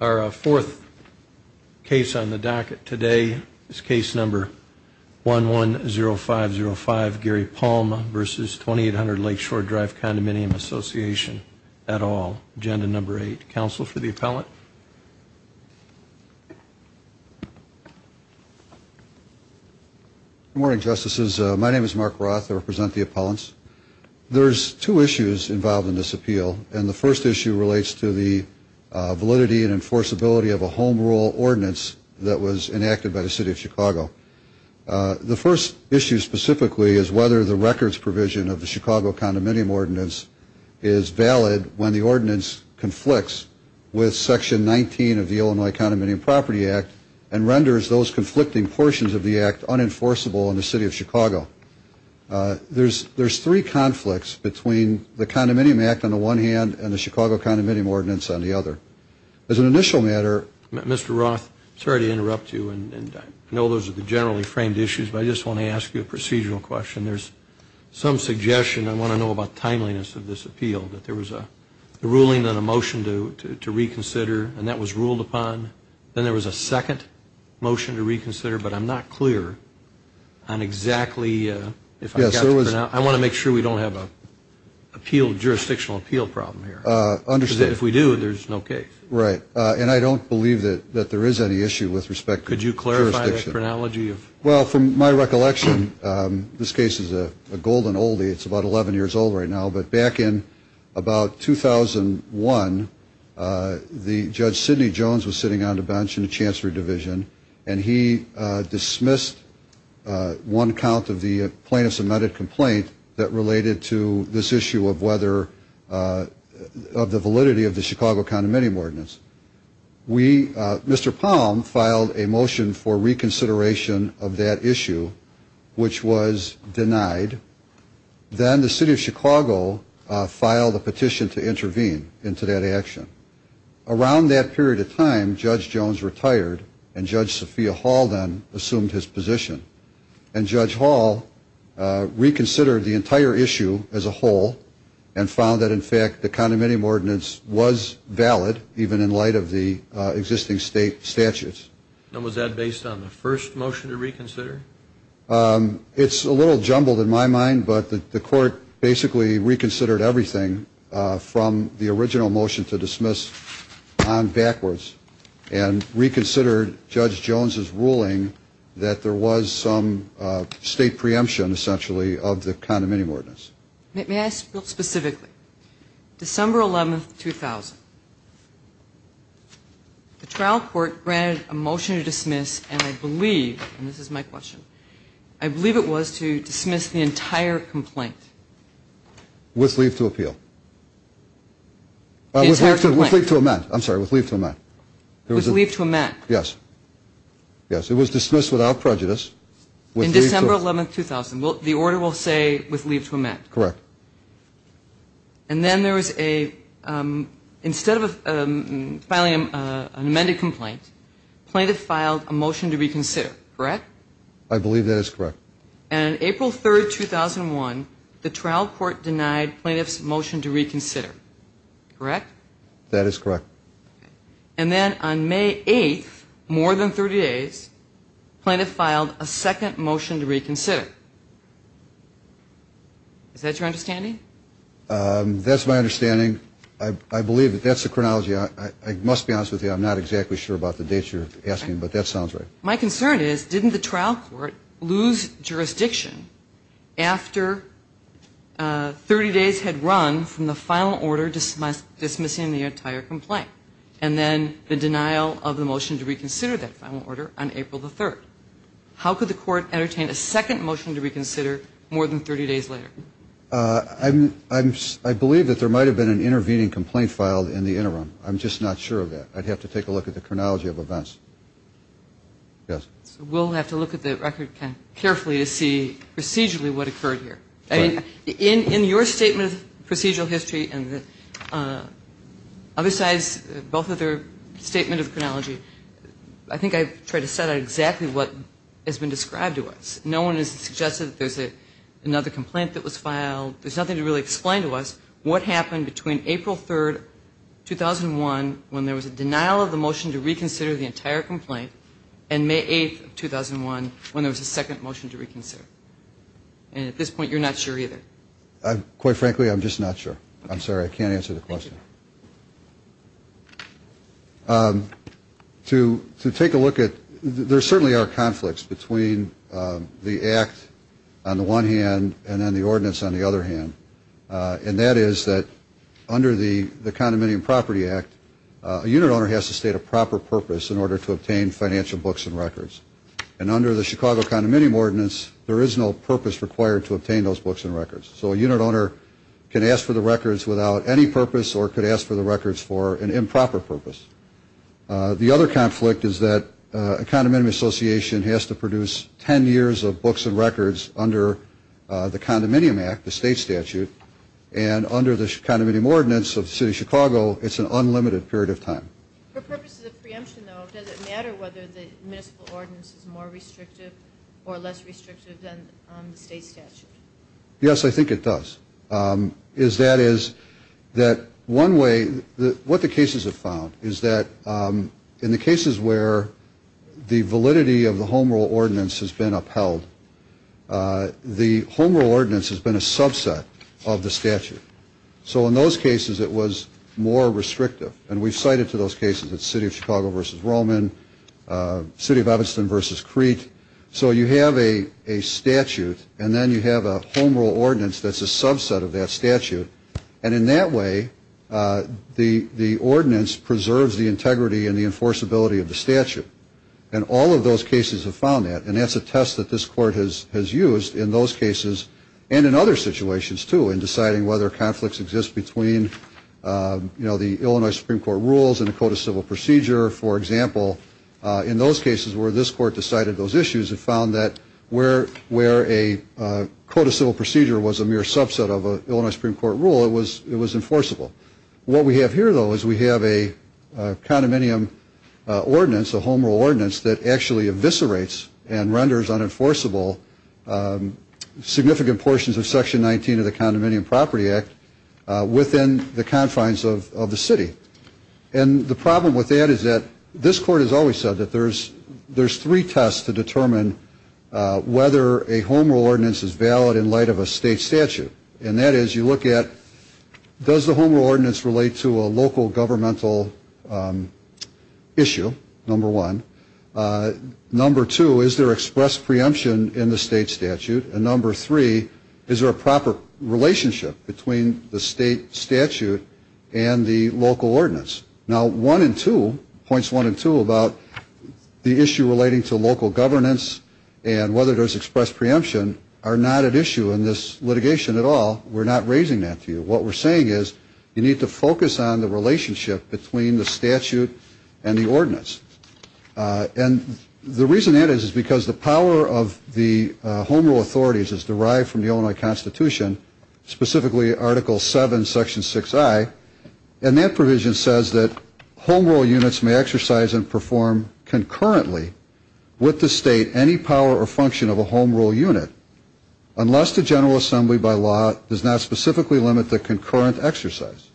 Our fourth case on the docket today is case number 110505 Gary Palm versus 2800 Lake Shore Drive Condominium Association et al. Agenda number eight. Counsel for the appellant. Good morning, Justices. My name is Mark Roth. I represent the appellants. There's two issues involved in this appeal, and the first issue relates to the validity and enforceability of a home rule ordinance that was enacted by the City of Chicago. The first issue specifically is whether the records provision of the Chicago Condominium Ordinance is valid when the ordinance conflicts with Section 19 of the Illinois Condominium Property Act and renders those conflicting portions of the act unenforceable in the City of Chicago. There's three conflicts between the Condominium Act on the one hand and the Chicago Condominium Ordinance on the other. As an initial matter, Mr. Roth, sorry to interrupt you, and I know those are the generally framed issues, but I just want to ask you a procedural question. There's some suggestion I want to know about timeliness of this appeal, that there was a ruling and a motion to reconsider, and that was ruled upon. Then there was a second motion to reconsider, but I'm not clear on exactly if I got the pronoun. I want to make sure we don't have a jurisdictional appeal problem here. Because if we do, there's no case. Right. And I don't believe that there is any issue with respect to jurisdiction. Could you clarify that pronology? Well, from my recollection, this case is a golden oldie. It's about 11 years old right now, but back in about 2001, the Judge Sidney Jones was sitting on a bench in the Chancellery Division, and he dismissed one count of the plaintiff's amended complaint that related to this issue of whether, of the validity of the Chicago Condominium Ordinance. Mr. Palm filed a motion for reconsideration of that issue, which was denied. Then the City of Chicago filed a petition to intervene into that action. Around that period of time, Judge Jones retired, and Judge Sophia Hall then assumed his position. And Judge Hall reconsidered the entire issue as a whole and found that, in fact, the Condominium Ordinance was valid, even in light of the existing state statutes. And was that based on the first motion to reconsider? It's a little jumbled in my mind, but the Court basically reconsidered everything from the original motion to dismiss on backwards and reconsidered Judge Jones's ruling that there was some state preemption, essentially, of the Condominium Ordinance. May I ask specifically, December 11, 2000, the trial court granted a motion to dismiss, and I believe, and this is my question, I believe it was to dismiss the entire complaint. With leave to appeal. With leave to amend. I'm sorry, with leave to amend. With leave to amend. Yes. Yes, it was dismissed without prejudice. In December 11, 2000, the order will say with leave to amend. Correct. And then there was a, instead of filing an amended complaint, plaintiff filed a motion to reconsider, correct? I believe that is correct. And April 3, 2001, the trial court denied plaintiff's motion to reconsider, correct? That is correct. And then on May 8, more than 30 days, plaintiff filed a second motion to reconsider. Is that your understanding? That's my understanding. I believe that that's the chronology. I must be honest with you. I'm not exactly sure about the dates you're asking, but that sounds right. My concern is didn't the trial court lose jurisdiction after 30 days had run from the final order dismissing the entire I believe that there might have been an intervening complaint filed in the interim. I'm just not sure of that. I'd have to take a look at the chronology of events. Yes. We'll have to look at the record carefully to see procedurally what occurred here. In your statement of procedural history and other sides, both of their statements of chronology, I think I've tried to set out exactly what has been described to us. No one has suggested that there's another complaint that was filed. There's nothing to really explain to us what happened between April 3, 2001, when there was a denial of the motion to reconsider the entire complaint, and May 8, 2001, when there was a second motion to reconsider. And at this point, you're not sure either. Quite frankly, I'm just not sure. I'm sorry. I can't answer the question. To take a look at, there certainly are conflicts between the act on the one hand and then the ordinance on the other hand. And that is that under the Condominium Property Act, a unit owner has to state a proper purpose in order to obtain financial books and records. And under the Chicago Condominium Ordinance, there is no purpose required to obtain those books and records. So a unit owner can ask for the records without any purpose or could ask for the records for an improper purpose. The other conflict is that a condominium association has to produce 10 years of books and records under the Condominium Act, the state statute. And under the Condominium Ordinance of the City of Chicago, it's an unlimited period of time. For purposes of preemption, though, does it matter whether the municipal ordinance is more restrictive or less restrictive than the state statute? Yes, I think it does. That is that one way, what the cases have found is that in the cases where the validity of the home rule ordinance has been upheld, the home rule ordinance has been a subset of the statute. So in those cases, it was more restrictive. And we've cited to those cases that City of Chicago versus Roman, City of Evanston versus Crete. So you have a statute and then you have a home rule ordinance that's a subset of that statute. And in that way, the ordinance preserves the integrity and the enforceability of the statute. And all of those cases have found that. And that's a test that this court has used in those cases and in other situations, too, in deciding whether conflicts exist between the Illinois Supreme Court rules and the Code of Civil Procedure. For example, in those cases where this court decided those issues, it found that where a Code of Civil Procedure was a mere subset of an Illinois Supreme Court rule, it was enforceable. What we have here, though, is we have a condominium ordinance, a home rule ordinance, that actually eviscerates and renders unenforceable significant portions of Section 19 of the Condominium Ordinance. Section 19 of the Condominium Property Act within the confines of the city. And the problem with that is that this court has always said that there's three tests to determine whether a home rule ordinance is valid in light of a state statute. And that is you look at, does the home rule ordinance relate to a local governmental issue, number one? Number two, is there express preemption in the state statute? And number three, is there a proper relationship between the state statute and the local ordinance? Now, one and two, points one and two about the issue relating to local governance and whether there's express preemption are not at issue in this litigation at all. We're not raising that to you. What we're saying is you need to focus on the relationship between the statute and the ordinance. And the reason that is, is because the power of the home rule authorities is derived from the Illinois Constitution, specifically Article 7, Section 6I. And that provision says that home rule units may exercise and perform concurrently with the state any power or function of a home rule unit unless the General Assembly by law does not specifically limit the concurrent exercise.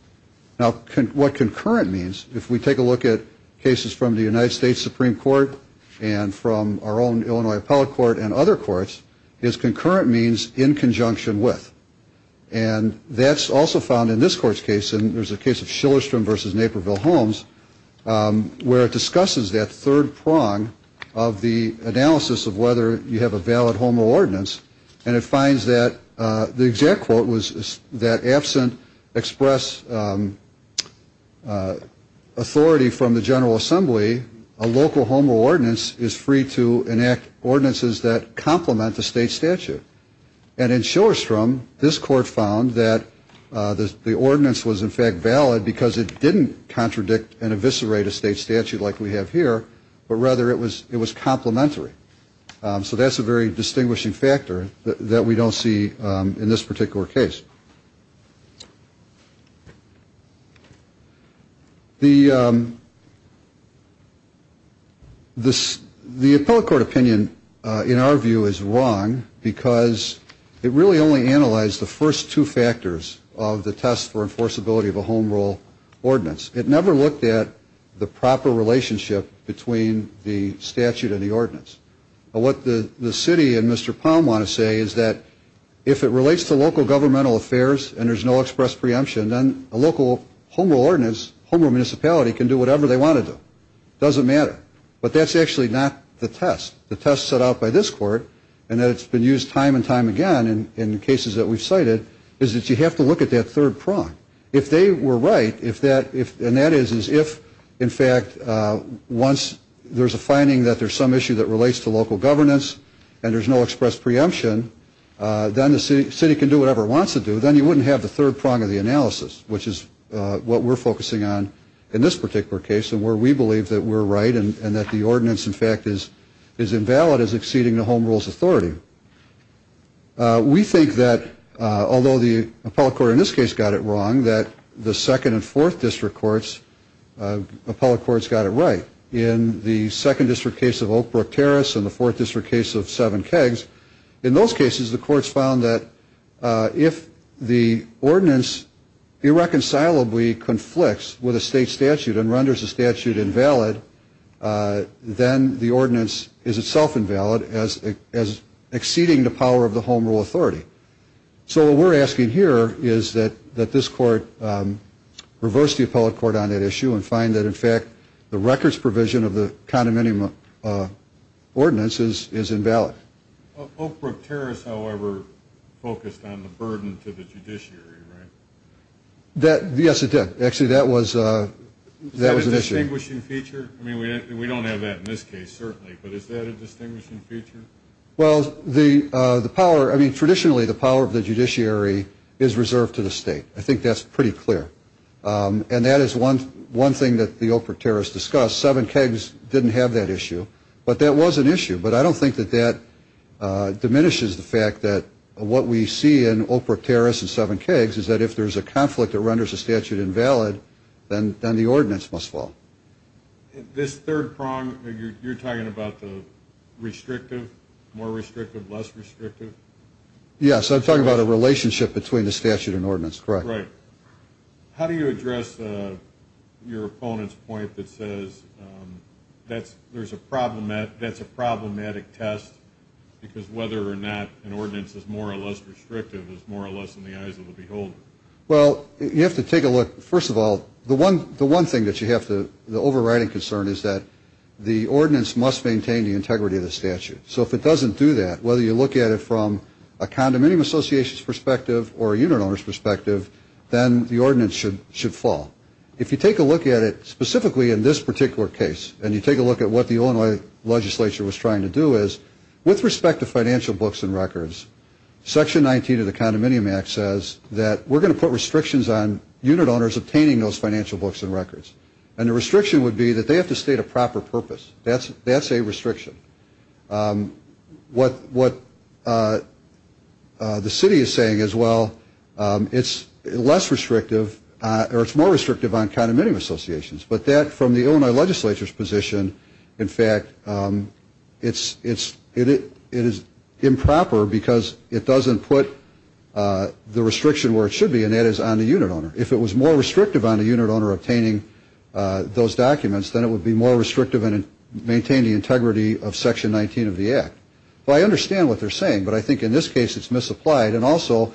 Now, what concurrent means, if we take a look at cases from the United States Supreme Court and from our own Illinois Appellate Court and other courts, is concurrent means in conjunction with. And that's also found in this court's case. And there's a case of Shillerstrom v. Naperville Homes where it discusses that third prong of the analysis of whether you have a valid home rule ordinance. And it finds that the exact quote was that absent express authority from the General Assembly, a local home rule ordinance is free to enact ordinances that complement the state statute. And in Shillerstrom, this court found that the ordinance was in fact valid because it didn't contradict and eviscerate a state statute like we have here, but rather it was complementary. So that's a very distinguishing factor that we don't see in this particular case. The Appellate Court opinion in our view is wrong because it really only analyzed the first two factors of the test for enforceability of a home rule ordinance. It never looked at the proper relationship between the statute and the ordinance. But what the city and Mr. Palm want to say is that if it relates to local governmental affairs and there's no express preemption, then a local home rule ordinance, home rule municipality can do whatever they want to do. It doesn't matter. But that's actually not the test. The test set out by this court, and it's been used time and time again in cases that we've cited, is that you have to look at that third prong. If they were right, and that is if in fact once there's a finding that there's some issue that relates to local governance and there's no express preemption, then the city can do whatever it wants to do. Then you wouldn't have the third prong of the analysis, which is what we're focusing on in this particular case and where we believe that we're right and that the ordinance in fact is invalid as exceeding the home rule's authority. We think that although the appellate court in this case got it wrong, that the second and fourth district courts, appellate courts got it right. In the second district case of Oak Brook Terrace and the fourth district case of Seven Kegs, in those cases the courts found that if the ordinance irreconcilably conflicts with a state statute and renders the statute invalid, then the ordinance is itself invalid as exceeding the power of the home rule authority. So what we're asking here is that this court reverse the appellate court on that issue and find that in fact the records provision of the condominium ordinance is invalid. Oak Brook Terrace, however, focused on the burden to the judiciary, right? Yes, it did. Actually, that was an issue. Is that a distinguishing feature? I mean, we don't have that in this case, certainly, but is that a distinguishing feature? Well, the power, I mean, traditionally the power of the judiciary is reserved to the state. I think that's pretty clear. And that is one thing that the Oak Brook Terrace discussed. Seven Kegs didn't have that issue, but that was an issue. But I don't think that that diminishes the fact that what we see in Oak Brook Terrace and Seven Kegs is that if there's a conflict that renders a statute invalid, then the ordinance must fall. This third prong, you're talking about the restrictive, more restrictive, less restrictive? Yes, I'm talking about a relationship between the statute and ordinance, correct? Right. How do you address your opponent's point that says that's a problematic test because whether or not an ordinance is more or less restrictive is more or less in the eyes of the beholder? Well, you have to take a look. First of all, the one thing that you have to, the overriding concern is that the ordinance must maintain the integrity of the statute. So if it doesn't do that, whether you look at it from a condominium association's perspective or a unit owner's perspective, then the ordinance should fall. If you take a look at it specifically in this particular case and you take a look at what the Illinois legislature was trying to do is with respect to financial books and records, Section 19 of the Condominium Act says that we're going to put restrictions on unit owners obtaining those financial books and records. And the restriction would be that they have to state a proper purpose. That's a restriction. What the city is saying is, well, it's less restrictive or it's more restrictive on condominium associations. But that from the Illinois legislature's position, in fact, it is improper because it doesn't put the restriction where it should be, and that is on the unit owner. If it was more restrictive on the unit owner obtaining those documents, then it would be more restrictive and maintain the integrity of Section 19 of the Act. I understand what they're saying, but I think in this case it's misapplied. And also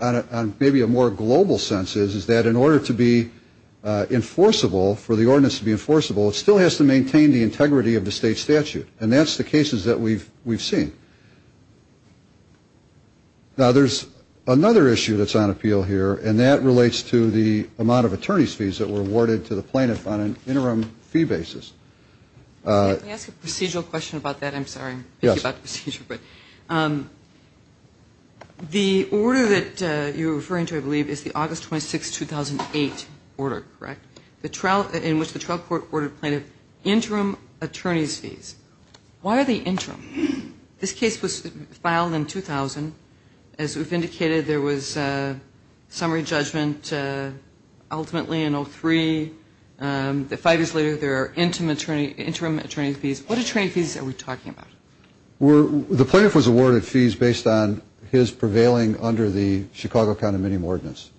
on maybe a more global sense is that in order to be enforceable, for the ordinance to be enforceable, it still has to maintain the integrity of the state statute. And that's the cases that we've seen. Now, there's another issue that's on appeal here, and that relates to the amount of attorney's fees that were awarded to the plaintiff on an interim fee basis. Let me ask a procedural question about that. I'm sorry, I'm busy about the procedure. The order that you're referring to, I believe, is the August 26, 2008 order, correct, in which the trial court ordered plaintiff interim attorney's fees. Why are they interim? This case was filed in 2000. As we've indicated, there was summary judgment ultimately in 03. Five years later, there are interim attorney's fees. What attorney fees are we talking about? The plaintiff was awarded fees based on his prevailing under the Chicago County Minimum Ordinance.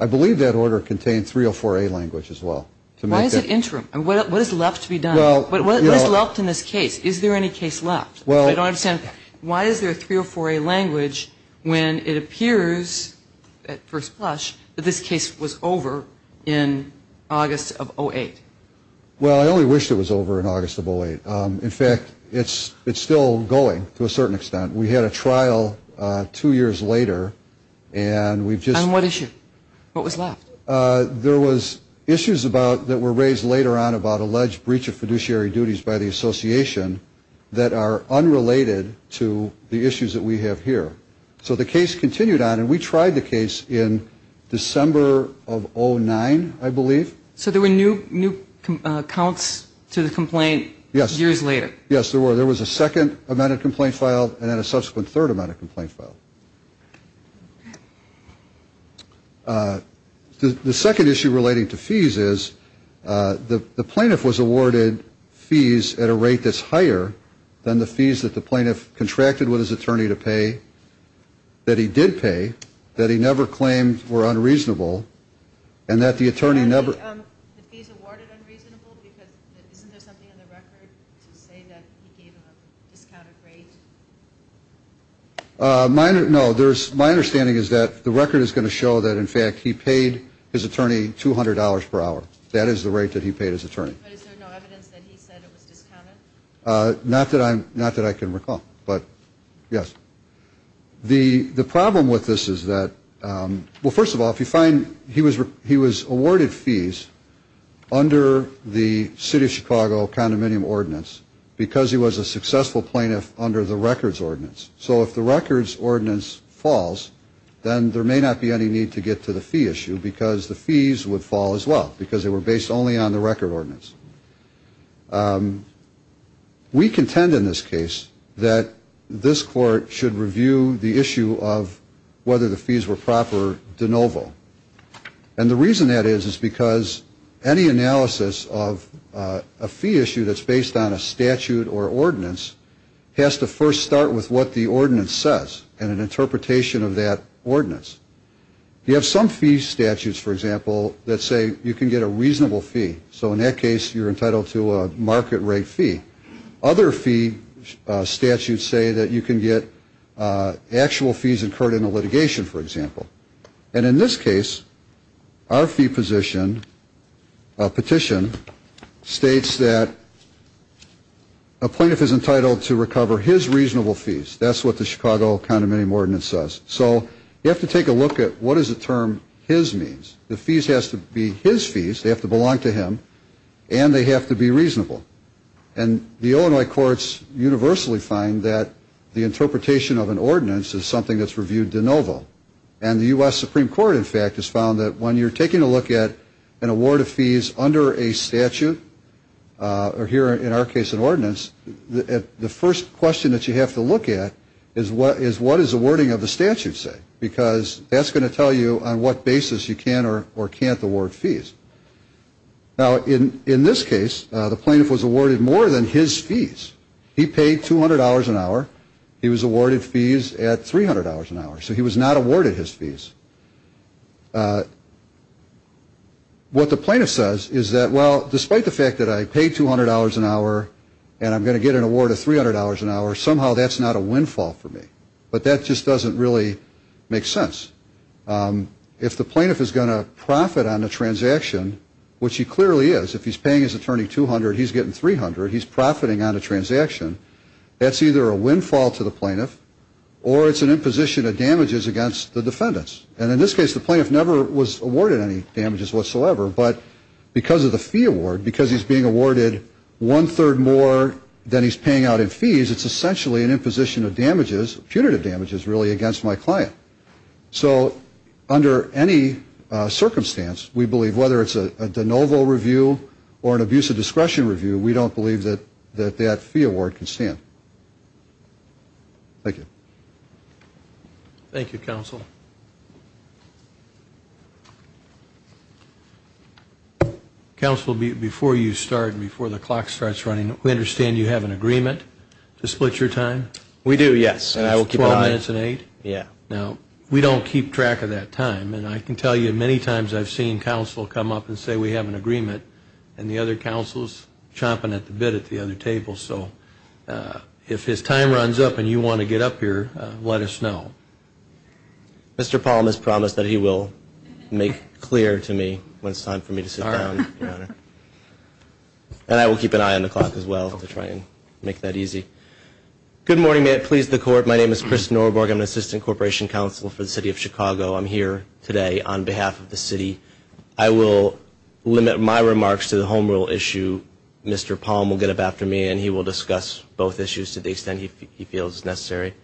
I believe that order contained 304A language as well. Why is it interim? What is left to be done? What is left in this case? Is there any case left? I don't understand. Why is there 304A language when it appears at first blush that this case was over in August of 08? Well, I only wish it was over in August of 08. In fact, it's still going to a certain extent. We had a trial two years later, and we've just been. On what issue? What was left? There was issues that were raised later on about alleged breach of fiduciary duties by the association that are unrelated to the issues that we have here. So the case continued on, and we tried the case in December of 09, I believe. So there were new counts to the complaint years later? Yes, there were. There was a second amount of complaint filed and then a subsequent third amount of complaint filed. The second issue relating to fees is the plaintiff was awarded fees at a rate that's higher than the fees that the plaintiff contracted with his attorney to pay that he did pay, that he never claimed were unreasonable, and that the attorney never. And the fees awarded unreasonable because isn't there something in the record to say that he gave a discounted rate? No. My understanding is that the record is going to show that, in fact, he paid his attorney $200 per hour. That is the rate that he paid his attorney. But is there no evidence that he said it was discounted? Not that I can recall, but yes. The problem with this is that, well, first of all, if you find he was awarded fees under the city of Chicago condominium ordinance because he was a successful plaintiff under the records ordinance. So if the records ordinance falls, then there may not be any need to get to the fee issue because the fees would fall as well because they were based only on the record ordinance. We contend in this case that this court should review the issue of whether the fees were proper de novo. And the reason that is is because any analysis of a fee issue that's based on a statute or ordinance has to first start with what the ordinance says and an interpretation of that ordinance. You have some fee statutes, for example, that say you can get a reasonable fee. So in that case, you're entitled to a market rate fee. Other fee statutes say that you can get actual fees incurred in a litigation, for example. And in this case, our fee position petition states that a plaintiff is entitled to recover his reasonable fees. That's what the Chicago condominium ordinance says. So you have to take a look at what is the term his means. The fees has to be his fees. They have to belong to him and they have to be reasonable. And the Illinois courts universally find that the interpretation of an ordinance is something that's reviewed de novo. And the U.S. Supreme Court, in fact, has found that when you're taking a look at an award of fees under a statute or here, in our case, an ordinance, the first question that you have to look at is what is the wording of the statute say? Because that's going to tell you on what basis you can or can't award fees. Now, in this case, the plaintiff was awarded more than his fees. He paid $200 an hour. He was awarded fees at $300 an hour. So he was not awarded his fees. What the plaintiff says is that, well, despite the fact that I paid $200 an hour and I'm going to get an award of $300 an hour, somehow that's not a windfall for me. But that just doesn't really make sense. If the plaintiff is going to profit on a transaction, which he clearly is, if he's paying his attorney $200, he's getting $300, he's profiting on a transaction, that's either a windfall to the plaintiff or it's an imposition of damages against the defendants. And in this case, the plaintiff never was awarded any damages whatsoever. But because of the fee award, because he's being awarded one-third more than he's paying out in fees, it's essentially an imposition of damages, punitive damages, really, against my client. So under any circumstance, we believe whether it's a de novo review or an abuse of discretion review, we don't believe that that fee award can stand. Thank you. Thank you, counsel. Counsel, before you start, before the clock starts running, we understand you have an agreement to split your time. We do, yes. Twelve minutes and eight? Yeah. Now, we don't keep track of that time. And I can tell you many times I've seen counsel come up and say we have an agreement, and the other counsel is chomping at the bit at the other table. So if his time runs up and you want to get up here, let us know. Mr. Palm has promised that he will make clear to me when it's time for me to sit down, Your Honor. And I will keep an eye on the clock as well to try and make that easy. Good morning. May it please the Court. My name is Chris Norborg. I'm an assistant corporation counsel for the City of Chicago. I'm here today on behalf of the city. I will limit my remarks to the home rule issue. Mr. Palm will get up after me, and he will discuss both issues to the extent he feels necessary.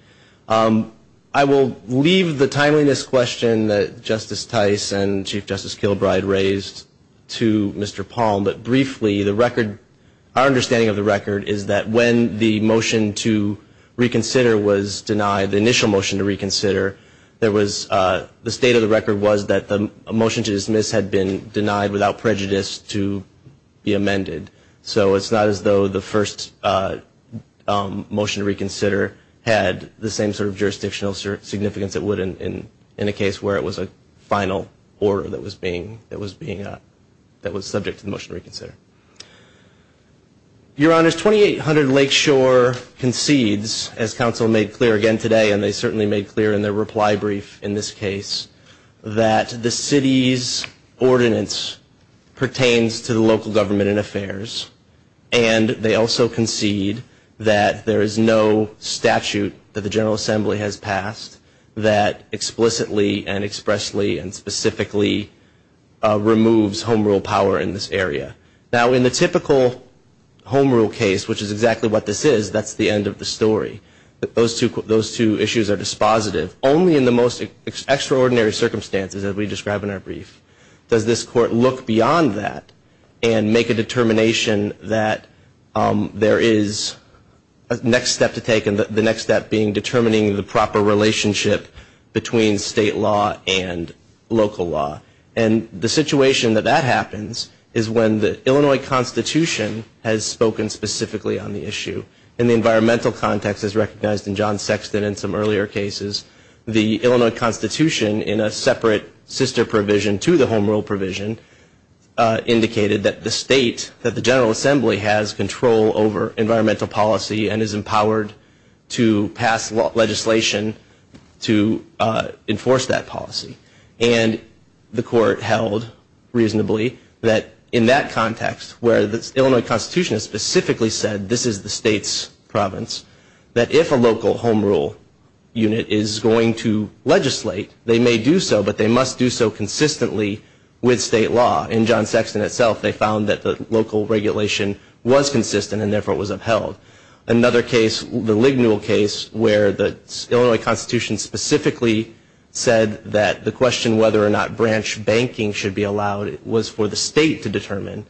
I will leave the timeliness question that Justice Tice and Chief Justice Kilbride raised to Mr. Palm. But briefly, our understanding of the record is that when the motion to reconsider was denied, the initial motion to reconsider, the state of the record was that a motion to dismiss had been denied without prejudice to be amended. So it's not as though the first motion to reconsider had the same sort of jurisdictional significance it would in a case where it was a final order that was subject to the motion to reconsider. Your Honors, 2800 Lakeshore concedes, as counsel made clear again today, and they certainly made clear in their reply brief in this case, that the city's ordinance pertains to the local government and affairs. And they also concede that there is no statute that the General Assembly has passed that explicitly and expressly and specifically removes home rule power in this area. Now, in the typical home rule case, which is exactly what this is, that's the end of the story. Those two issues are dispositive. Only in the most extraordinary circumstances, as we describe in our brief, does this Court look beyond that and make a determination that there is a next step to take, and the next step being determining the proper relationship between state law and local law. And the situation that that happens is when the Illinois Constitution has spoken specifically on the issue. In the environmental context, as recognized in John Sexton in some earlier cases, the Illinois Constitution in a separate sister provision to the home rule provision indicated that the state, that the General Assembly has control over environmental policy and is empowered to pass legislation to enforce that policy. And the Court held reasonably that in that context, where the Illinois Constitution has specifically said this is the state's province, that if a local home rule unit is going to legislate, they may do so, but they must do so consistently with state law. In John Sexton itself, they found that the local regulation was consistent and, therefore, was upheld. Another case, the Lignuel case, where the Illinois Constitution specifically said that the question whether or not branch banking should be allowed was for the state to determine.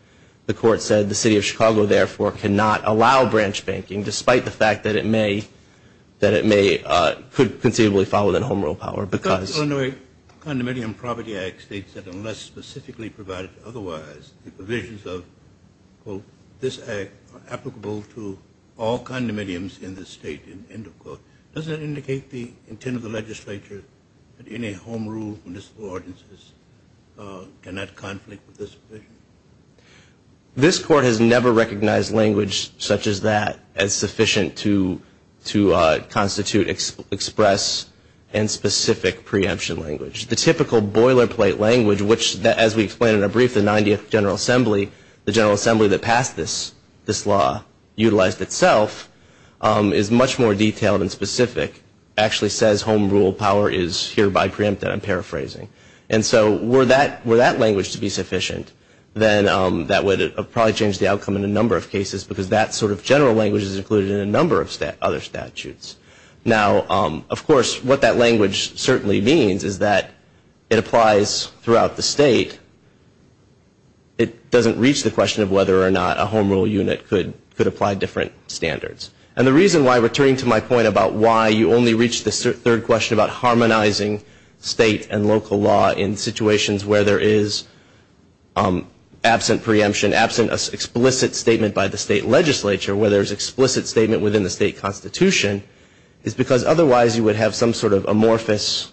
The Court said the city of Chicago, therefore, cannot allow branch banking, despite the fact that it may, could conceivably fall within home rule power. The Illinois Condominium Property Act states that unless specifically provided otherwise, the provisions of, quote, this act are applicable to all condominiums in the state, end of quote. Does that indicate the intent of the legislature that any home rule municipal ordinances cannot conflict with this provision? This Court has never recognized language such as that as sufficient to constitute, express, and specific preemption language. The typical boilerplate language, which, as we explained in a brief, the 90th General Assembly, the General Assembly that passed this law, utilized itself, is much more detailed and specific, actually says home rule power is hereby preempted, I'm paraphrasing. And so were that language to be sufficient, then that would probably change the outcome in a number of cases, because that sort of general language is included in a number of other statutes. Now, of course, what that language certainly means is that it applies throughout the state. It doesn't reach the question of whether or not a home rule unit could apply different standards. And the reason why, returning to my point about why you only reach the third question about harmonizing state and local law in situations where there is absent preemption, absent explicit statement by the state legislature, where there is explicit statement within the state constitution, is because otherwise you would have some sort of amorphous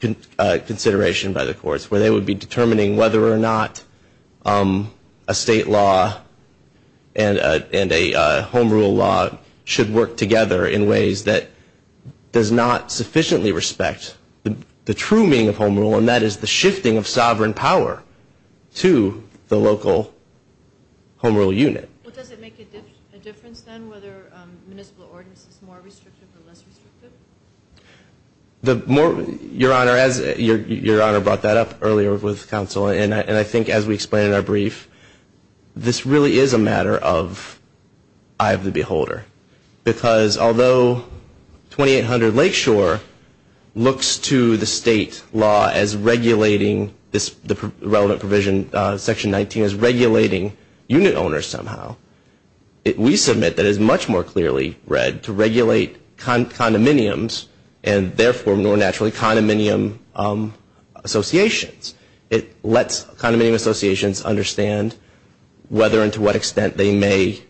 consideration by the courts, where they would be determining whether or not a state law and a home rule law should work together in ways that does not sufficiently respect the true meaning of home rule, and that is the shifting of sovereign power to the local home rule unit. Does it make a difference, then, whether municipal ordinance is more restrictive or less restrictive? Your Honor, as your Honor brought that up earlier with counsel, and I think as we explained in our brief, this really is a matter of eye of the beholder, because although 2800 Lakeshore looks to the state law as regulating this relevant provision, Section 19, as regulating unit owners somehow, we submit that it is much more clearly read to regulate condominiums, and therefore more naturally condominium associations. It lets condominium associations understand whether and to what extent they may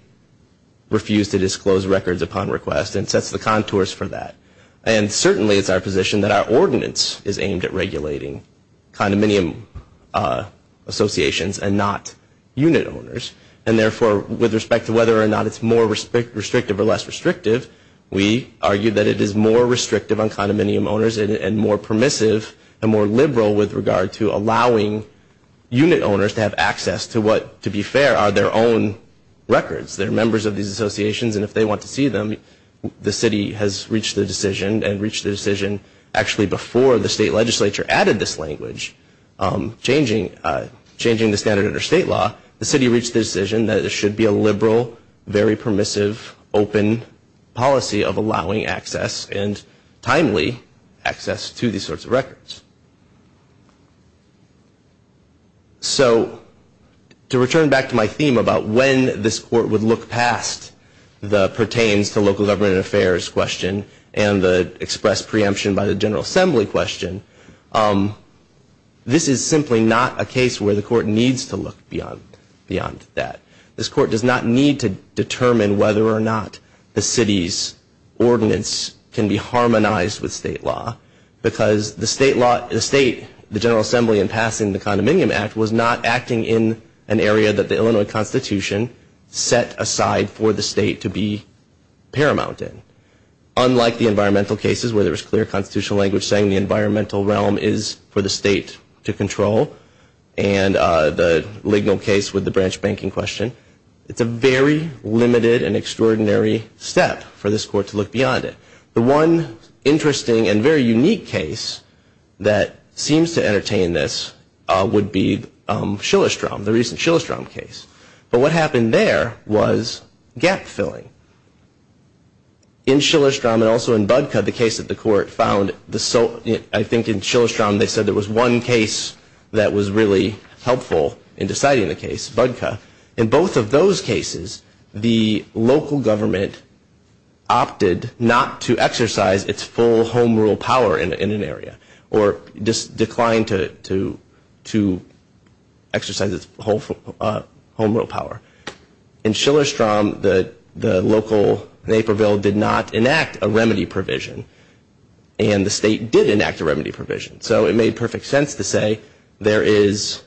refuse to disclose records upon request and sets the contours for that. And certainly it's our position that our ordinance is aimed at regulating condominium associations and not unit owners, and therefore with respect to whether or not it's more restrictive or less restrictive, we argue that it is more restrictive on condominium owners and more permissive and more liberal with regard to allowing unit owners to have access to what, to be fair, are their own records. They're members of these associations, and if they want to see them, the city has reached the decision and reached the decision actually before the state legislature added this language, changing the standard under state law, the city reached the decision that it should be a liberal, very permissive, open policy of allowing access and timely access to these sorts of records. So to return back to my theme about when this court would look past the pertains to local government affairs question and the express preemption by the General Assembly question, this is simply not a case where the court needs to look beyond that. This court does not need to determine whether or not the city's ordinance can be harmonized with state law, because the state, the General Assembly in passing the Condominium Act, was not acting in an area that the Illinois Constitution set aside for the state to be paramount in. Unlike the environmental cases where there was clear constitutional language saying the environmental realm is for the state to control, and the legal case with the branch banking question, it's a very limited and extraordinary step for this court to look beyond it. The one interesting and very unique case that seems to entertain this would be Shillerstrom, the recent Shillerstrom case. But what happened there was gap filling. In Shillerstrom and also in Budka, the case that the court found, I think in Shillerstrom they said there was one case that was really helpful in deciding the case, Budka. In both of those cases, the local government opted not to exercise its full home rule power in an area, or declined to exercise its home rule power. In Shillerstrom, the local Naperville did not enact a remedy provision, and the state did enact a remedy provision. So it made perfect sense to say there is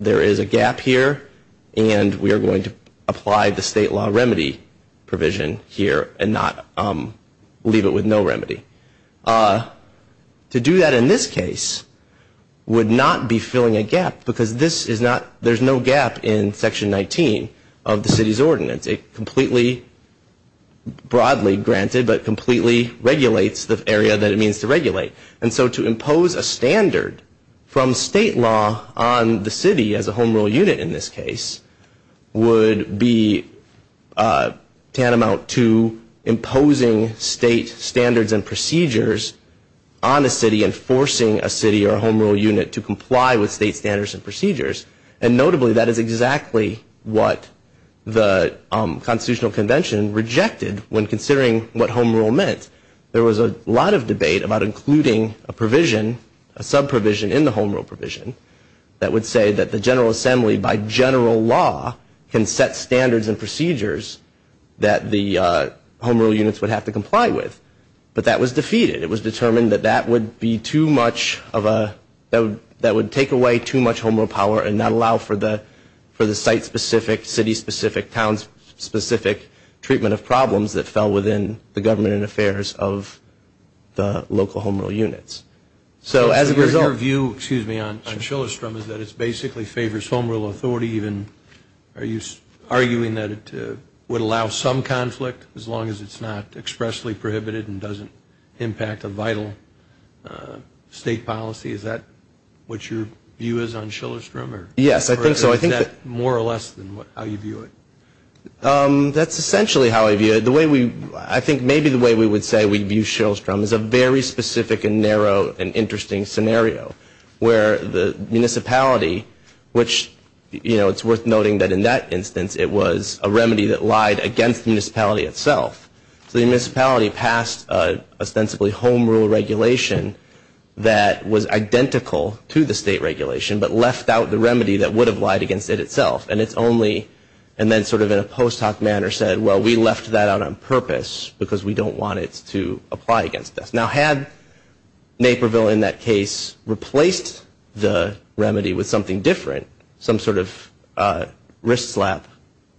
a gap here, and we are going to apply the state law remedy provision here and leave it with no remedy. To do that in this case would not be filling a gap, because there's no gap in Section 19 of the city's ordinance. It completely, broadly granted, but completely regulates the area that it means to regulate. And so to impose a standard from state law on the city as a home rule unit in this case, would be tantamount to imposing state standards and procedures on a city and forcing a city or a home rule unit to comply with state standards and procedures. And notably, that is exactly what the Constitutional Convention rejected when considering what home rule meant. There was a lot of debate about including a provision, a sub-provision in the home rule provision, that would say that the General Assembly, by general law, can set standards and procedures that the home rule units would have to comply with. But that was defeated. It was determined that that would be too much of a, that would take away too much home rule power and not allow for the site-specific, city-specific, town-specific treatment of problems that fell within the government and affairs of the local home rule units. So as a result... So your view, excuse me, on Shillerstrom is that it basically favors home rule authority even? Are you arguing that it would allow some conflict as long as it's not expressly prohibited and doesn't impact a vital state policy? Is that what your view is on Shillerstrom? Yes, I think so. Or is that more or less than how you view it? That's essentially how I view it. The way we, I think maybe the way we would say we view Shillerstrom is a very specific and narrow and interesting scenario where the municipality, which, you know, it's worth noting that in that instance it was a remedy that lied against the municipality itself. So the municipality passed ostensibly home rule regulation that was identical to the state regulation but left out the remedy that would have lied against it itself. And it's only, and then sort of in a post hoc manner said, well, we left that out on purpose because we don't want it to apply against us. Now had Naperville in that case replaced the remedy with something different, some sort of wrist slap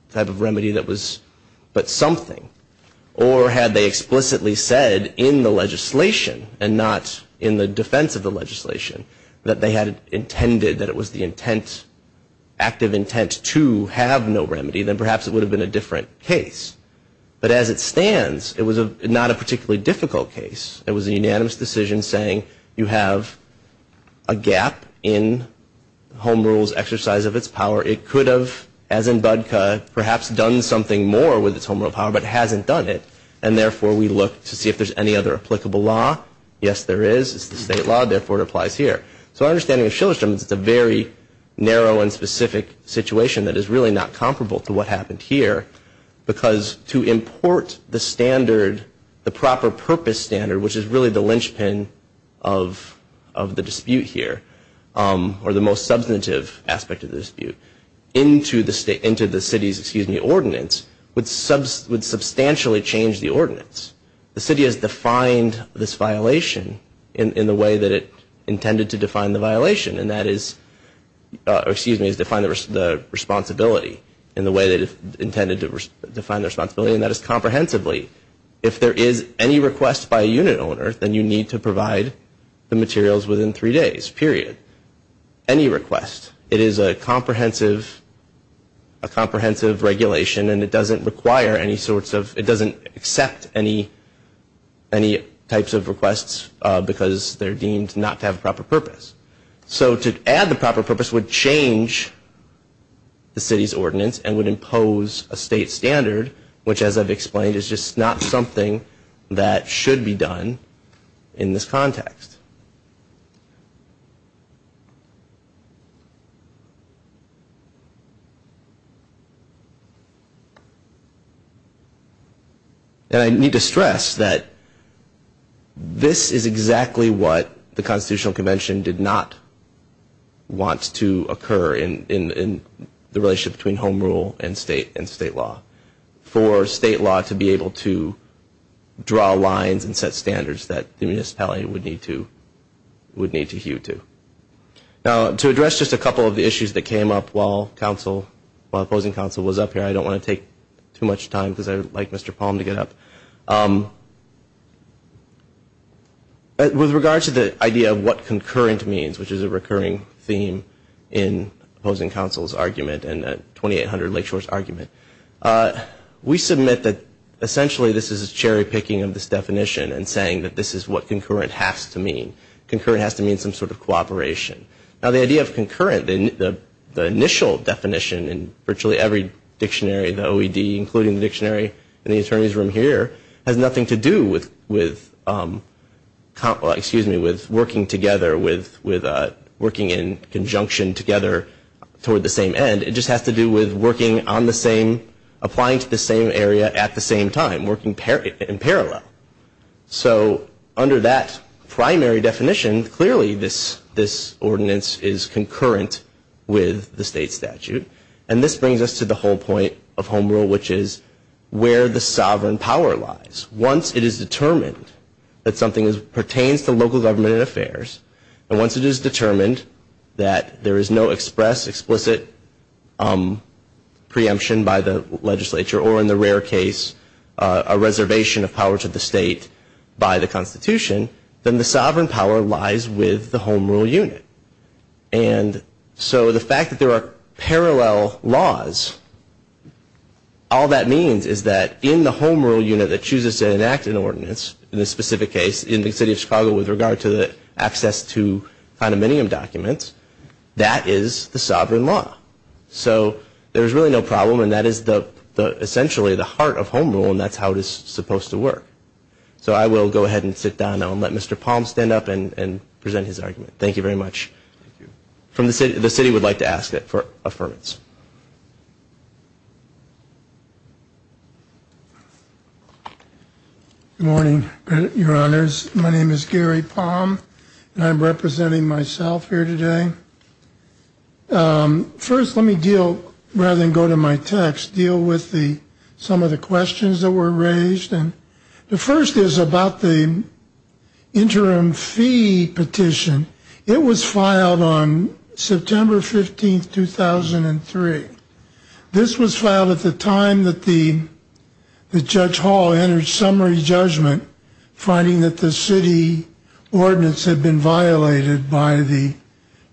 type of remedy that was but something, or had they explicitly said in the legislation and not in the defense of the legislation, that they had intended that it was the intent, active intent to have no remedy, then perhaps it would have been a different case. But as it stands, it was not a particularly difficult case. It was a unanimous decision saying you have a gap in home rules exercise of its power. It could have, as in Budka, perhaps done something more with its home rule power but hasn't done it. And therefore we look to see if there's any other applicable law. Yes, there is. It's the state law. Therefore, it applies here. So our understanding of Shillestrom is it's a very narrow and specific situation that is really not comparable to what happened here because to import the standard, the proper purpose standard, which is really the linchpin of the dispute here or the most substantive aspect of the dispute, into the city's ordinance would substantially change the ordinance. The city has defined this violation in the way that it intended to define the violation. And that is, excuse me, it's defined the responsibility in the way that it intended to define the responsibility, and that is comprehensively. If there is any request by a unit owner, then you need to provide the materials within three days, period. Any request. It is a comprehensive regulation and it doesn't require any sorts of, it doesn't accept any types of requests because they're deemed not to have a proper purpose. So to add the proper purpose would change the city's ordinance and would impose a state standard, which as I've explained is just not something that should be done in this context. And I need to stress that this is exactly what the Constitutional Convention did not want to occur in the relationship between home rule and state law. For state law to be able to draw lines and set standards that the municipality would need to hew to. Now to address just a couple of the issues that came up while opposing counsel was up here, I don't want to take too much time because I would like Mr. Palm to get up. With regards to the idea of what concurrent means, which is a recurring theme in opposing counsel's argument and the 2800 Lakeshore's argument, we submit that essentially this is a cherry picking of this definition and saying that this is what concurrent has to mean. Concurrent has to mean some sort of cooperation. Now the idea of concurrent, the initial definition in virtually every dictionary, the OED including the dictionary in the attorney's room here, has nothing to do with working in conjunction together toward the same end. It just has to do with working on the same, applying to the same area at the same time, working in parallel. So under that primary definition, clearly this ordinance is concurrent with the state statute. And this brings us to the whole point of Home Rule, which is where the sovereign power lies. Once it is determined that something pertains to local government and affairs, and once it is determined that there is no express, explicit preemption by the legislature, or in the rare case a reservation of power to the state by the Constitution, then the sovereign power lies with the Home Rule unit. And so the fact that there are parallel laws, all that means is that in the Home Rule unit that chooses to enact an ordinance, in this specific case in the city of Chicago with regard to the access to condominium documents, that is the sovereign law. So there is really no problem and that is essentially the heart of Home Rule and that's how it is supposed to work. So I will go ahead and sit down now and let Mr. Palm stand up and present his argument. Thank you very much. The city would like to ask for affirmance. Good morning, your honors. My name is Gary Palm and I'm representing myself here today. First, let me deal, rather than go to my text, deal with some of the questions that were raised. The first is about the interim fee petition. It was filed on September 15, 2003. This was filed at the time that Judge Hall entered summary judgment, finding that the city ordinance had been violated by the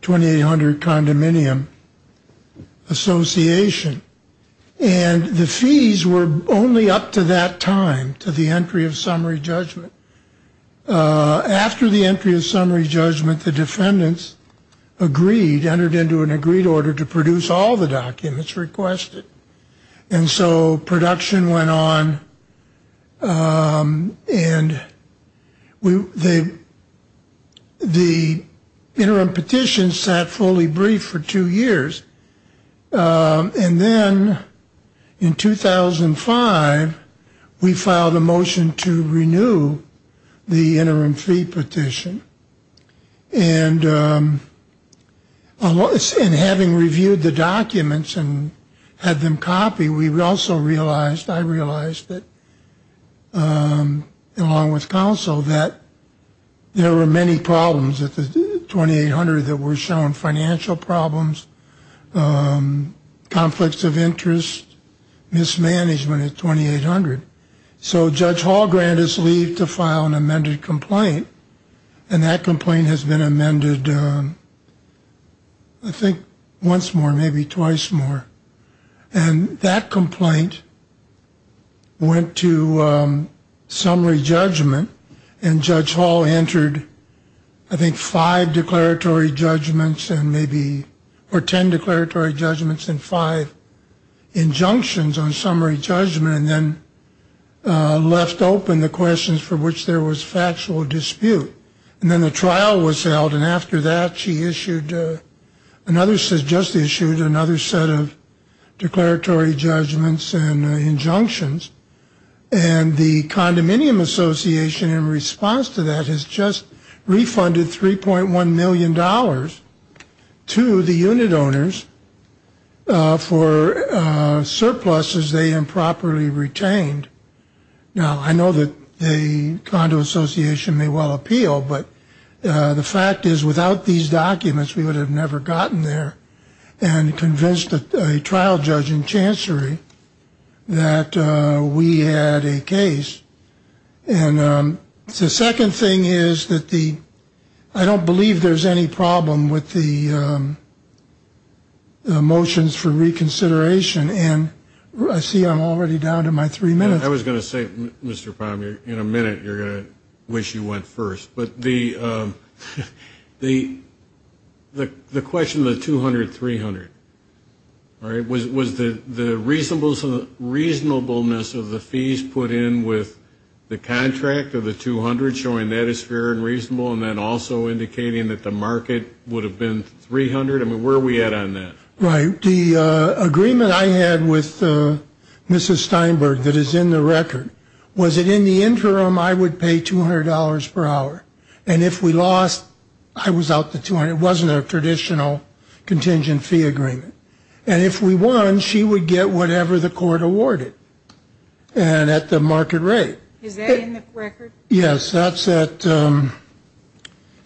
2800 Condominium Association. And the fees were only up to that time, to the entry of summary judgment. After the entry of summary judgment, the defendants agreed, entered into an agreed order to produce all the documents requested. And so production went on and the interim petition sat fully briefed for two years and then in 2005, we filed a motion to renew the interim fee petition. And having reviewed the documents and had them copied, we also realized, I realized that, along with counsel, that there were many problems at the 2800 that were shown, financial problems, conflicts of interest, mismanagement at 2800. So Judge Hall granted us leave to file an amended complaint. And that complaint has been amended, I think, once more, maybe twice more. And that complaint went to summary judgment and Judge Hall entered, I think, five declaratory judgments and maybe, or ten declaratory judgments and five injunctions on summary judgment and then left open the questions for which there was factual dispute. And then the trial was held and after that she issued another set, just issued another set of declaratory judgments and injunctions. And the Condominium Association, in response to that, has just refunded $3.1 million to the unit owners for surpluses they improperly retained. Now, I know that the Condo Association may well appeal, but the fact is without these documents we would have never gotten there and convinced a trial judge in Chancery that we had a case. And the second thing is that I don't believe there's any problem with the motions for reconsideration. And I see I'm already down to my three minutes. I was going to say, Mr. Palmier, in a minute you're going to wish you went first. But the question of the $200, $300, right, was the reasonableness of the fees put in with the contract of the $200 showing that it's fair and reasonable and then also indicating that the market would have been $300? I mean, where are we at on that? Right. The agreement I had with Mrs. Steinberg that is in the record, was that in the interim I would pay $200 per hour. And if we lost, I was out the $200. It wasn't a traditional contingent fee agreement. And if we won, she would get whatever the court awarded and at the market rate. Is that in the record? Yes. That's at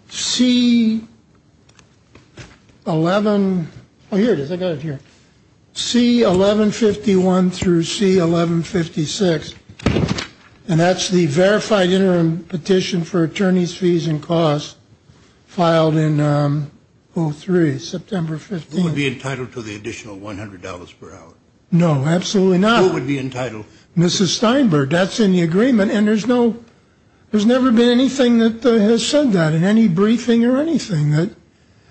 C-11. Oh, here it is. I got it here. C-1151 through C-1156. And that's the verified interim petition for attorney's fees and costs filed in 03, September 15th. Would we be entitled to the additional $100 per hour? No, absolutely not. Mrs. Steinberg. That's in the agreement. And there's never been anything that has said that in any briefing or anything.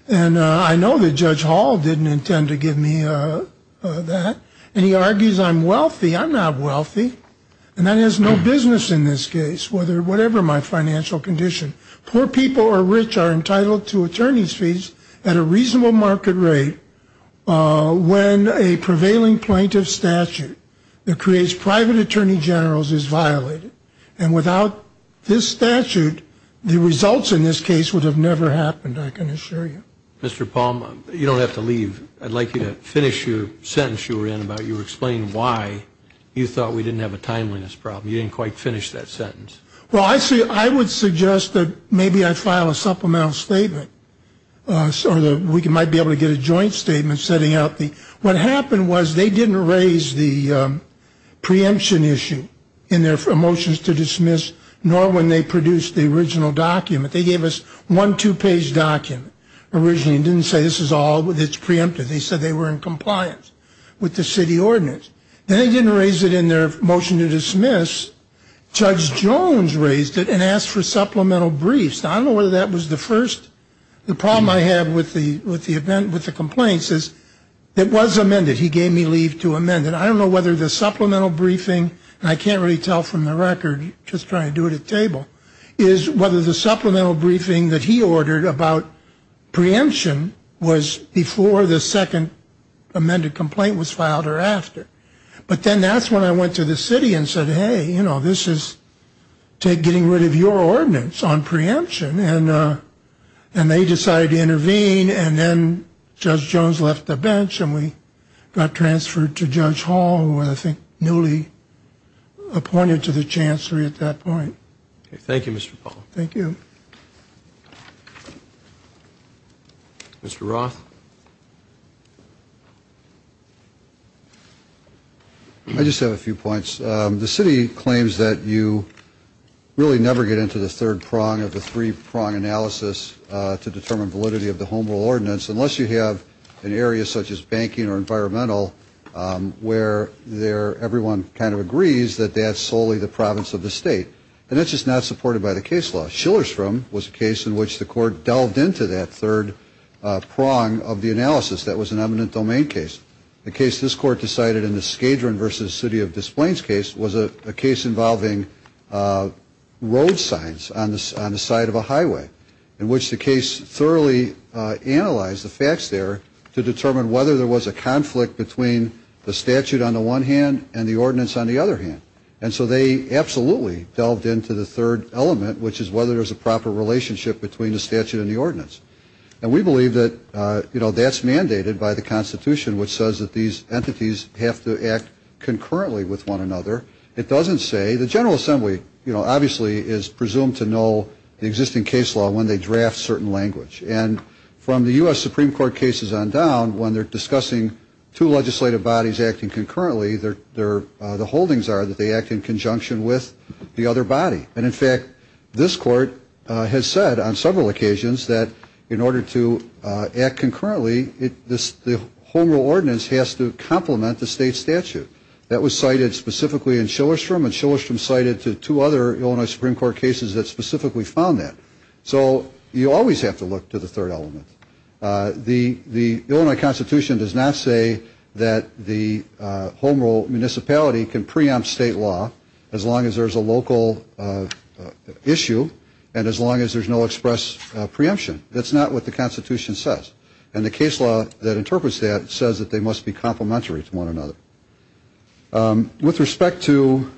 And I know that Judge Hall didn't intend to give me that. And he argues I'm wealthy. I'm not wealthy. And that has no business in this case, whatever my financial condition. Poor people or rich are entitled to attorney's fees at a reasonable market rate when a prevailing plaintiff statute that creates private attorney generals is violated. And without this statute, the results in this case would have never happened, I can assure you. Mr. Palm, you don't have to leave. I'd like you to finish your sentence you were in about you were explaining why you thought we didn't have a timeliness problem. You didn't quite finish that sentence. Well, I would suggest that maybe I file a supplemental statement or we might be able to get a joint statement setting out. What happened was they didn't raise the preemption issue in their motions to dismiss, nor when they produced the original document. They gave us one two-page document originally and didn't say this is all that's preemptive. They said they were in compliance with the city ordinance. Then they didn't raise it in their motion to dismiss. Judge Jones raised it and asked for supplemental briefs. I don't know whether that was the first. The problem I have with the complaints is it was amended. He gave me leave to amend it. I don't know whether the supplemental briefing, and I can't really tell from the record, just trying to do it at table, is whether the supplemental briefing that he ordered about preemption was before the second amended complaint was filed or after. But then that's when I went to the city and said, hey, you know, this is getting rid of your ordinance on preemption. And they decided to intervene. And then Judge Jones left the bench and we got transferred to Judge Hall, who was, I think, newly appointed to the chancellery at that point. Thank you, Mr. Paul. Thank you. Thank you. Mr. Roth? I just have a few points. The city claims that you really never get into the third prong of the three-prong analysis to determine validity of the Home Rule ordinance unless you have an area such as banking or environmental where everyone kind of agrees that that's solely the province of the state. And that's just not supported by the case law. Schillersfram was a case in which the court delved into that third prong of the analysis. That was an eminent domain case. The case this court decided in the Scadran v. City of Des Plaines case was a case involving road signs on the side of a highway, in which the case thoroughly analyzed the facts there to determine whether there was a conflict between the statute on the one hand and the ordinance on the other hand. And so they absolutely delved into the third element, which is whether there's a proper relationship between the statute and the ordinance. And we believe that, you know, that's mandated by the Constitution, which says that these entities have to act concurrently with one another. It doesn't say. The General Assembly, you know, obviously is presumed to know the existing case law when they draft certain language. And from the U.S. Supreme Court cases on down, when they're discussing two legislative bodies acting concurrently, the holdings are that they act in conjunction with the other body. And, in fact, this court has said on several occasions that in order to act concurrently, the Home Rule ordinance has to complement the state statute. That was cited specifically in Shillerstrom, and Shillerstrom cited two other Illinois Supreme Court cases that specifically found that. So you always have to look to the third element. The Illinois Constitution does not say that the Home Rule municipality can preempt state law as long as there's a local issue and as long as there's no express preemption. That's not what the Constitution says. And the case law that interprets that says that they must be complementary to one another. With respect to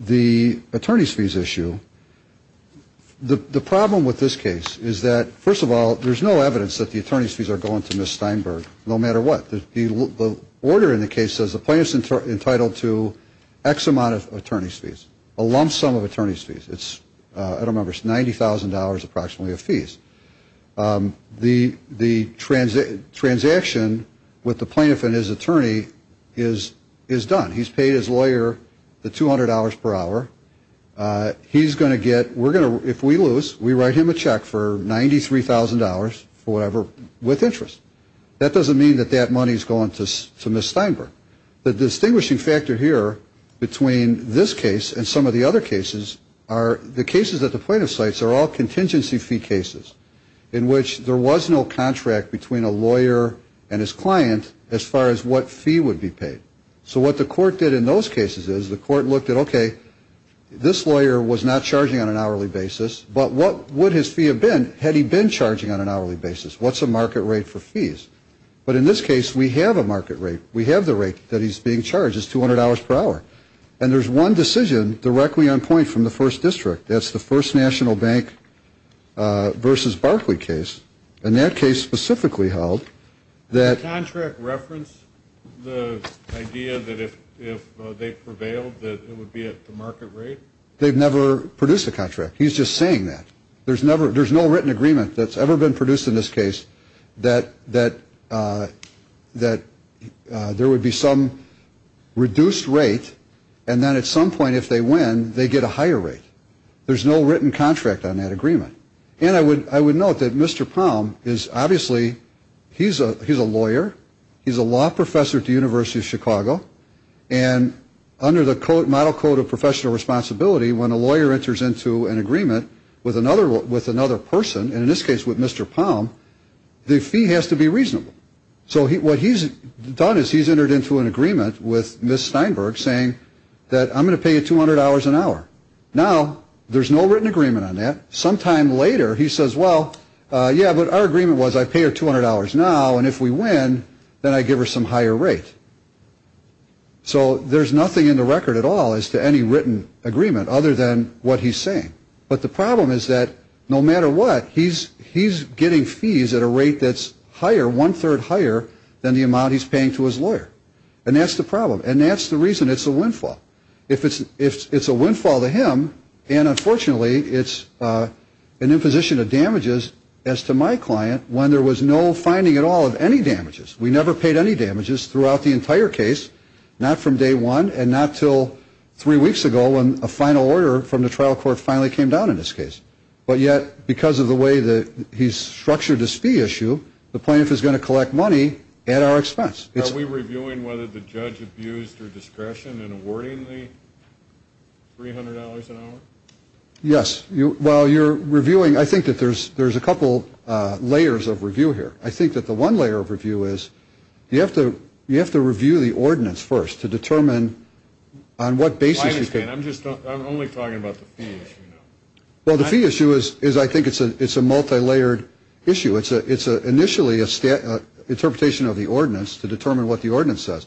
the attorney's fees issue, the problem with this case is that, first of all, there's no evidence that the attorney's fees are going to Ms. Steinberg, no matter what. The order in the case says the plaintiff's entitled to X amount of attorney's fees, a lump sum of attorney's fees. I don't remember. It's $90,000 approximately of fees. The transaction with the plaintiff and his attorney is done. He's paid his lawyer the $200 per hour. He's going to get, if we lose, we write him a check for $93,000 for whatever, with interest. That doesn't mean that that money is going to Ms. Steinberg. The distinguishing factor here between this case and some of the other cases are the cases that the plaintiff cites are all contingency fee cases in which there was no contract between a lawyer and his client as far as what fee would be paid. So what the court did in those cases is the court looked at, okay, this lawyer was not charging on an hourly basis, but what would his fee have been had he been charging on an hourly basis? What's the market rate for fees? But in this case, we have a market rate. We have the rate that he's being charged. It's $200 per hour. And there's one decision directly on point from the first district. That's the first National Bank versus Barclay case. And that case specifically held that. Contract reference, the idea that if they prevailed, that it would be at the market rate. They've never produced a contract. He's just saying that there's never there's no written agreement that's ever been produced in this case, that, that, that there would be some reduced rate. And then at some point, if they win, they get a higher rate. There's no written contract on that agreement. And I would note that Mr. Palm is obviously he's a lawyer. He's a law professor at the University of Chicago. And under the model code of professional responsibility, when a lawyer enters into an agreement with another person, and in this case with Mr. Palm, the fee has to be reasonable. So what he's done is he's entered into an agreement with Ms. Steinberg saying that I'm going to pay you $200 an hour. Now, there's no written agreement on that. Sometime later he says, well, yeah, but our agreement was I pay her $200 now. And if we win, then I give her some higher rate. So there's nothing in the record at all as to any written agreement other than what he's saying. But the problem is that no matter what, he's he's getting fees at a rate that's higher, one third higher than the amount he's paying to his lawyer. And that's the problem. And that's the reason it's a windfall. If it's if it's a windfall to him. And unfortunately, it's an imposition of damages as to my client when there was no finding at all of any damages. We never paid any damages throughout the entire case, not from day one and not till three weeks ago when a final order from the trial court finally came down in this case. But yet, because of the way that he's structured this fee issue, the plaintiff is going to collect money at our expense. Are we reviewing whether the judge abused her discretion in awarding the three hundred dollars an hour? Yes. Well, you're reviewing. I think that there's there's a couple layers of review here. I think that the one layer of review is you have to you have to review the ordinance first to determine on what basis. I'm just I'm only talking about the fees. Well, the fee issue is is I think it's a it's a multilayered issue. It's a it's initially a state interpretation of the ordinance to determine what the ordinance says.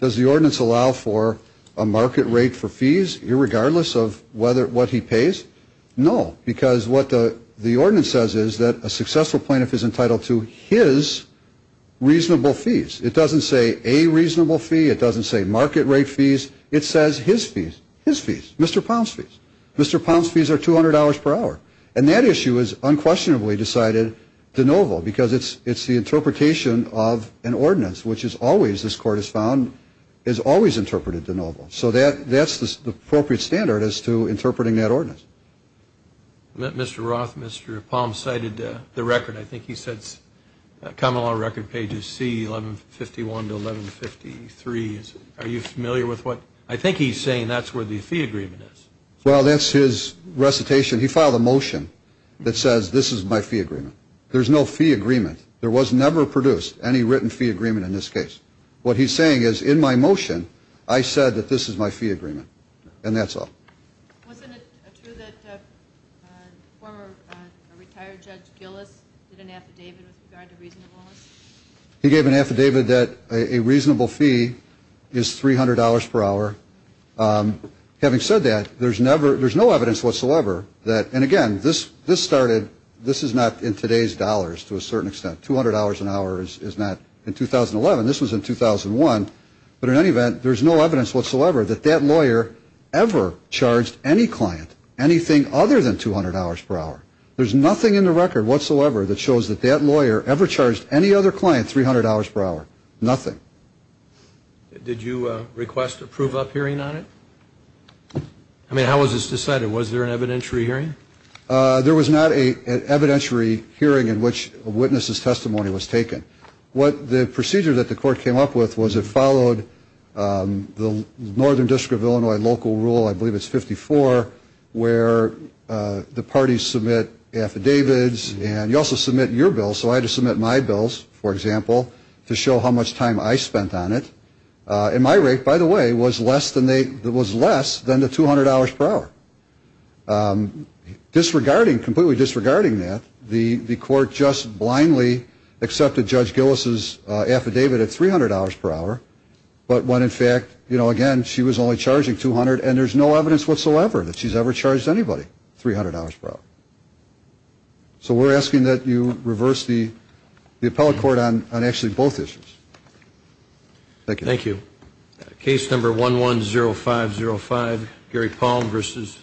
Does the ordinance allow for a market rate for fees irregardless of whether what he pays? No, because what the ordinance says is that a successful plaintiff is entitled to his reasonable fees. It doesn't say a reasonable fee. It doesn't say market rate fees. It says his fees, his fees, Mr. Ponce fees are two hundred dollars per hour. And that issue is unquestionably decided de novo because it's it's the interpretation of an ordinance, which is always this court has found is always interpreted de novo. So that that's the appropriate standard as to interpreting that ordinance. Mr. Roth, Mr. Palm cited the record. I think he said common law record pages C 1151 to 1153. Are you familiar with what? I think he's saying that's where the fee agreement is. Well, that's his recitation. He filed a motion that says this is my fee agreement. There's no fee agreement. There was never produced any written fee agreement in this case. What he's saying is in my motion, I said that this is my fee agreement. And that's all. He gave an affidavit that a reasonable fee is three hundred dollars per hour. Having said that, there's never there's no evidence whatsoever that. And again, this this started. This is not in today's dollars to a certain extent. Two hundred dollars an hour is not in 2011. This was in 2001. But in any event, there's no evidence whatsoever that that lawyer ever charged any client. Anything other than two hundred hours per hour. There's nothing in the record whatsoever that shows that that lawyer ever charged any other client. Three hundred hours per hour. Nothing. Did you request a prove up hearing on it? I mean, how was this decided? Was there an evidentiary hearing? There was not a evidentiary hearing in which a witness's testimony was taken. What the procedure that the court came up with was it followed the northern district of Illinois local rule. I believe it's fifty four where the parties submit affidavits and you also submit your bill. So I had to submit my bills, for example, to show how much time I spent on it. And my rate, by the way, was less than they was less than the two hundred hours per hour. Disregarding completely disregarding that the court just blindly accepted Judge Gillis's affidavit at three hundred hours per hour. But when in fact, you know, again, she was only charging two hundred. And there's no evidence whatsoever that she's ever charged anybody three hundred hours per hour. So we're asking that you reverse the the appellate court on actually both issues. Thank you. Case number one one zero five zero five. Gary Palm versus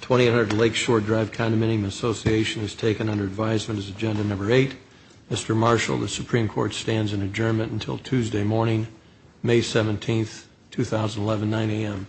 twenty eight hundred Lakeshore Drive Condominium Association is taken under advisement as agenda number eight. Mr. Marshall, the Supreme Court stands in adjournment until Tuesday morning, May 17th, 2011, 9 a.m.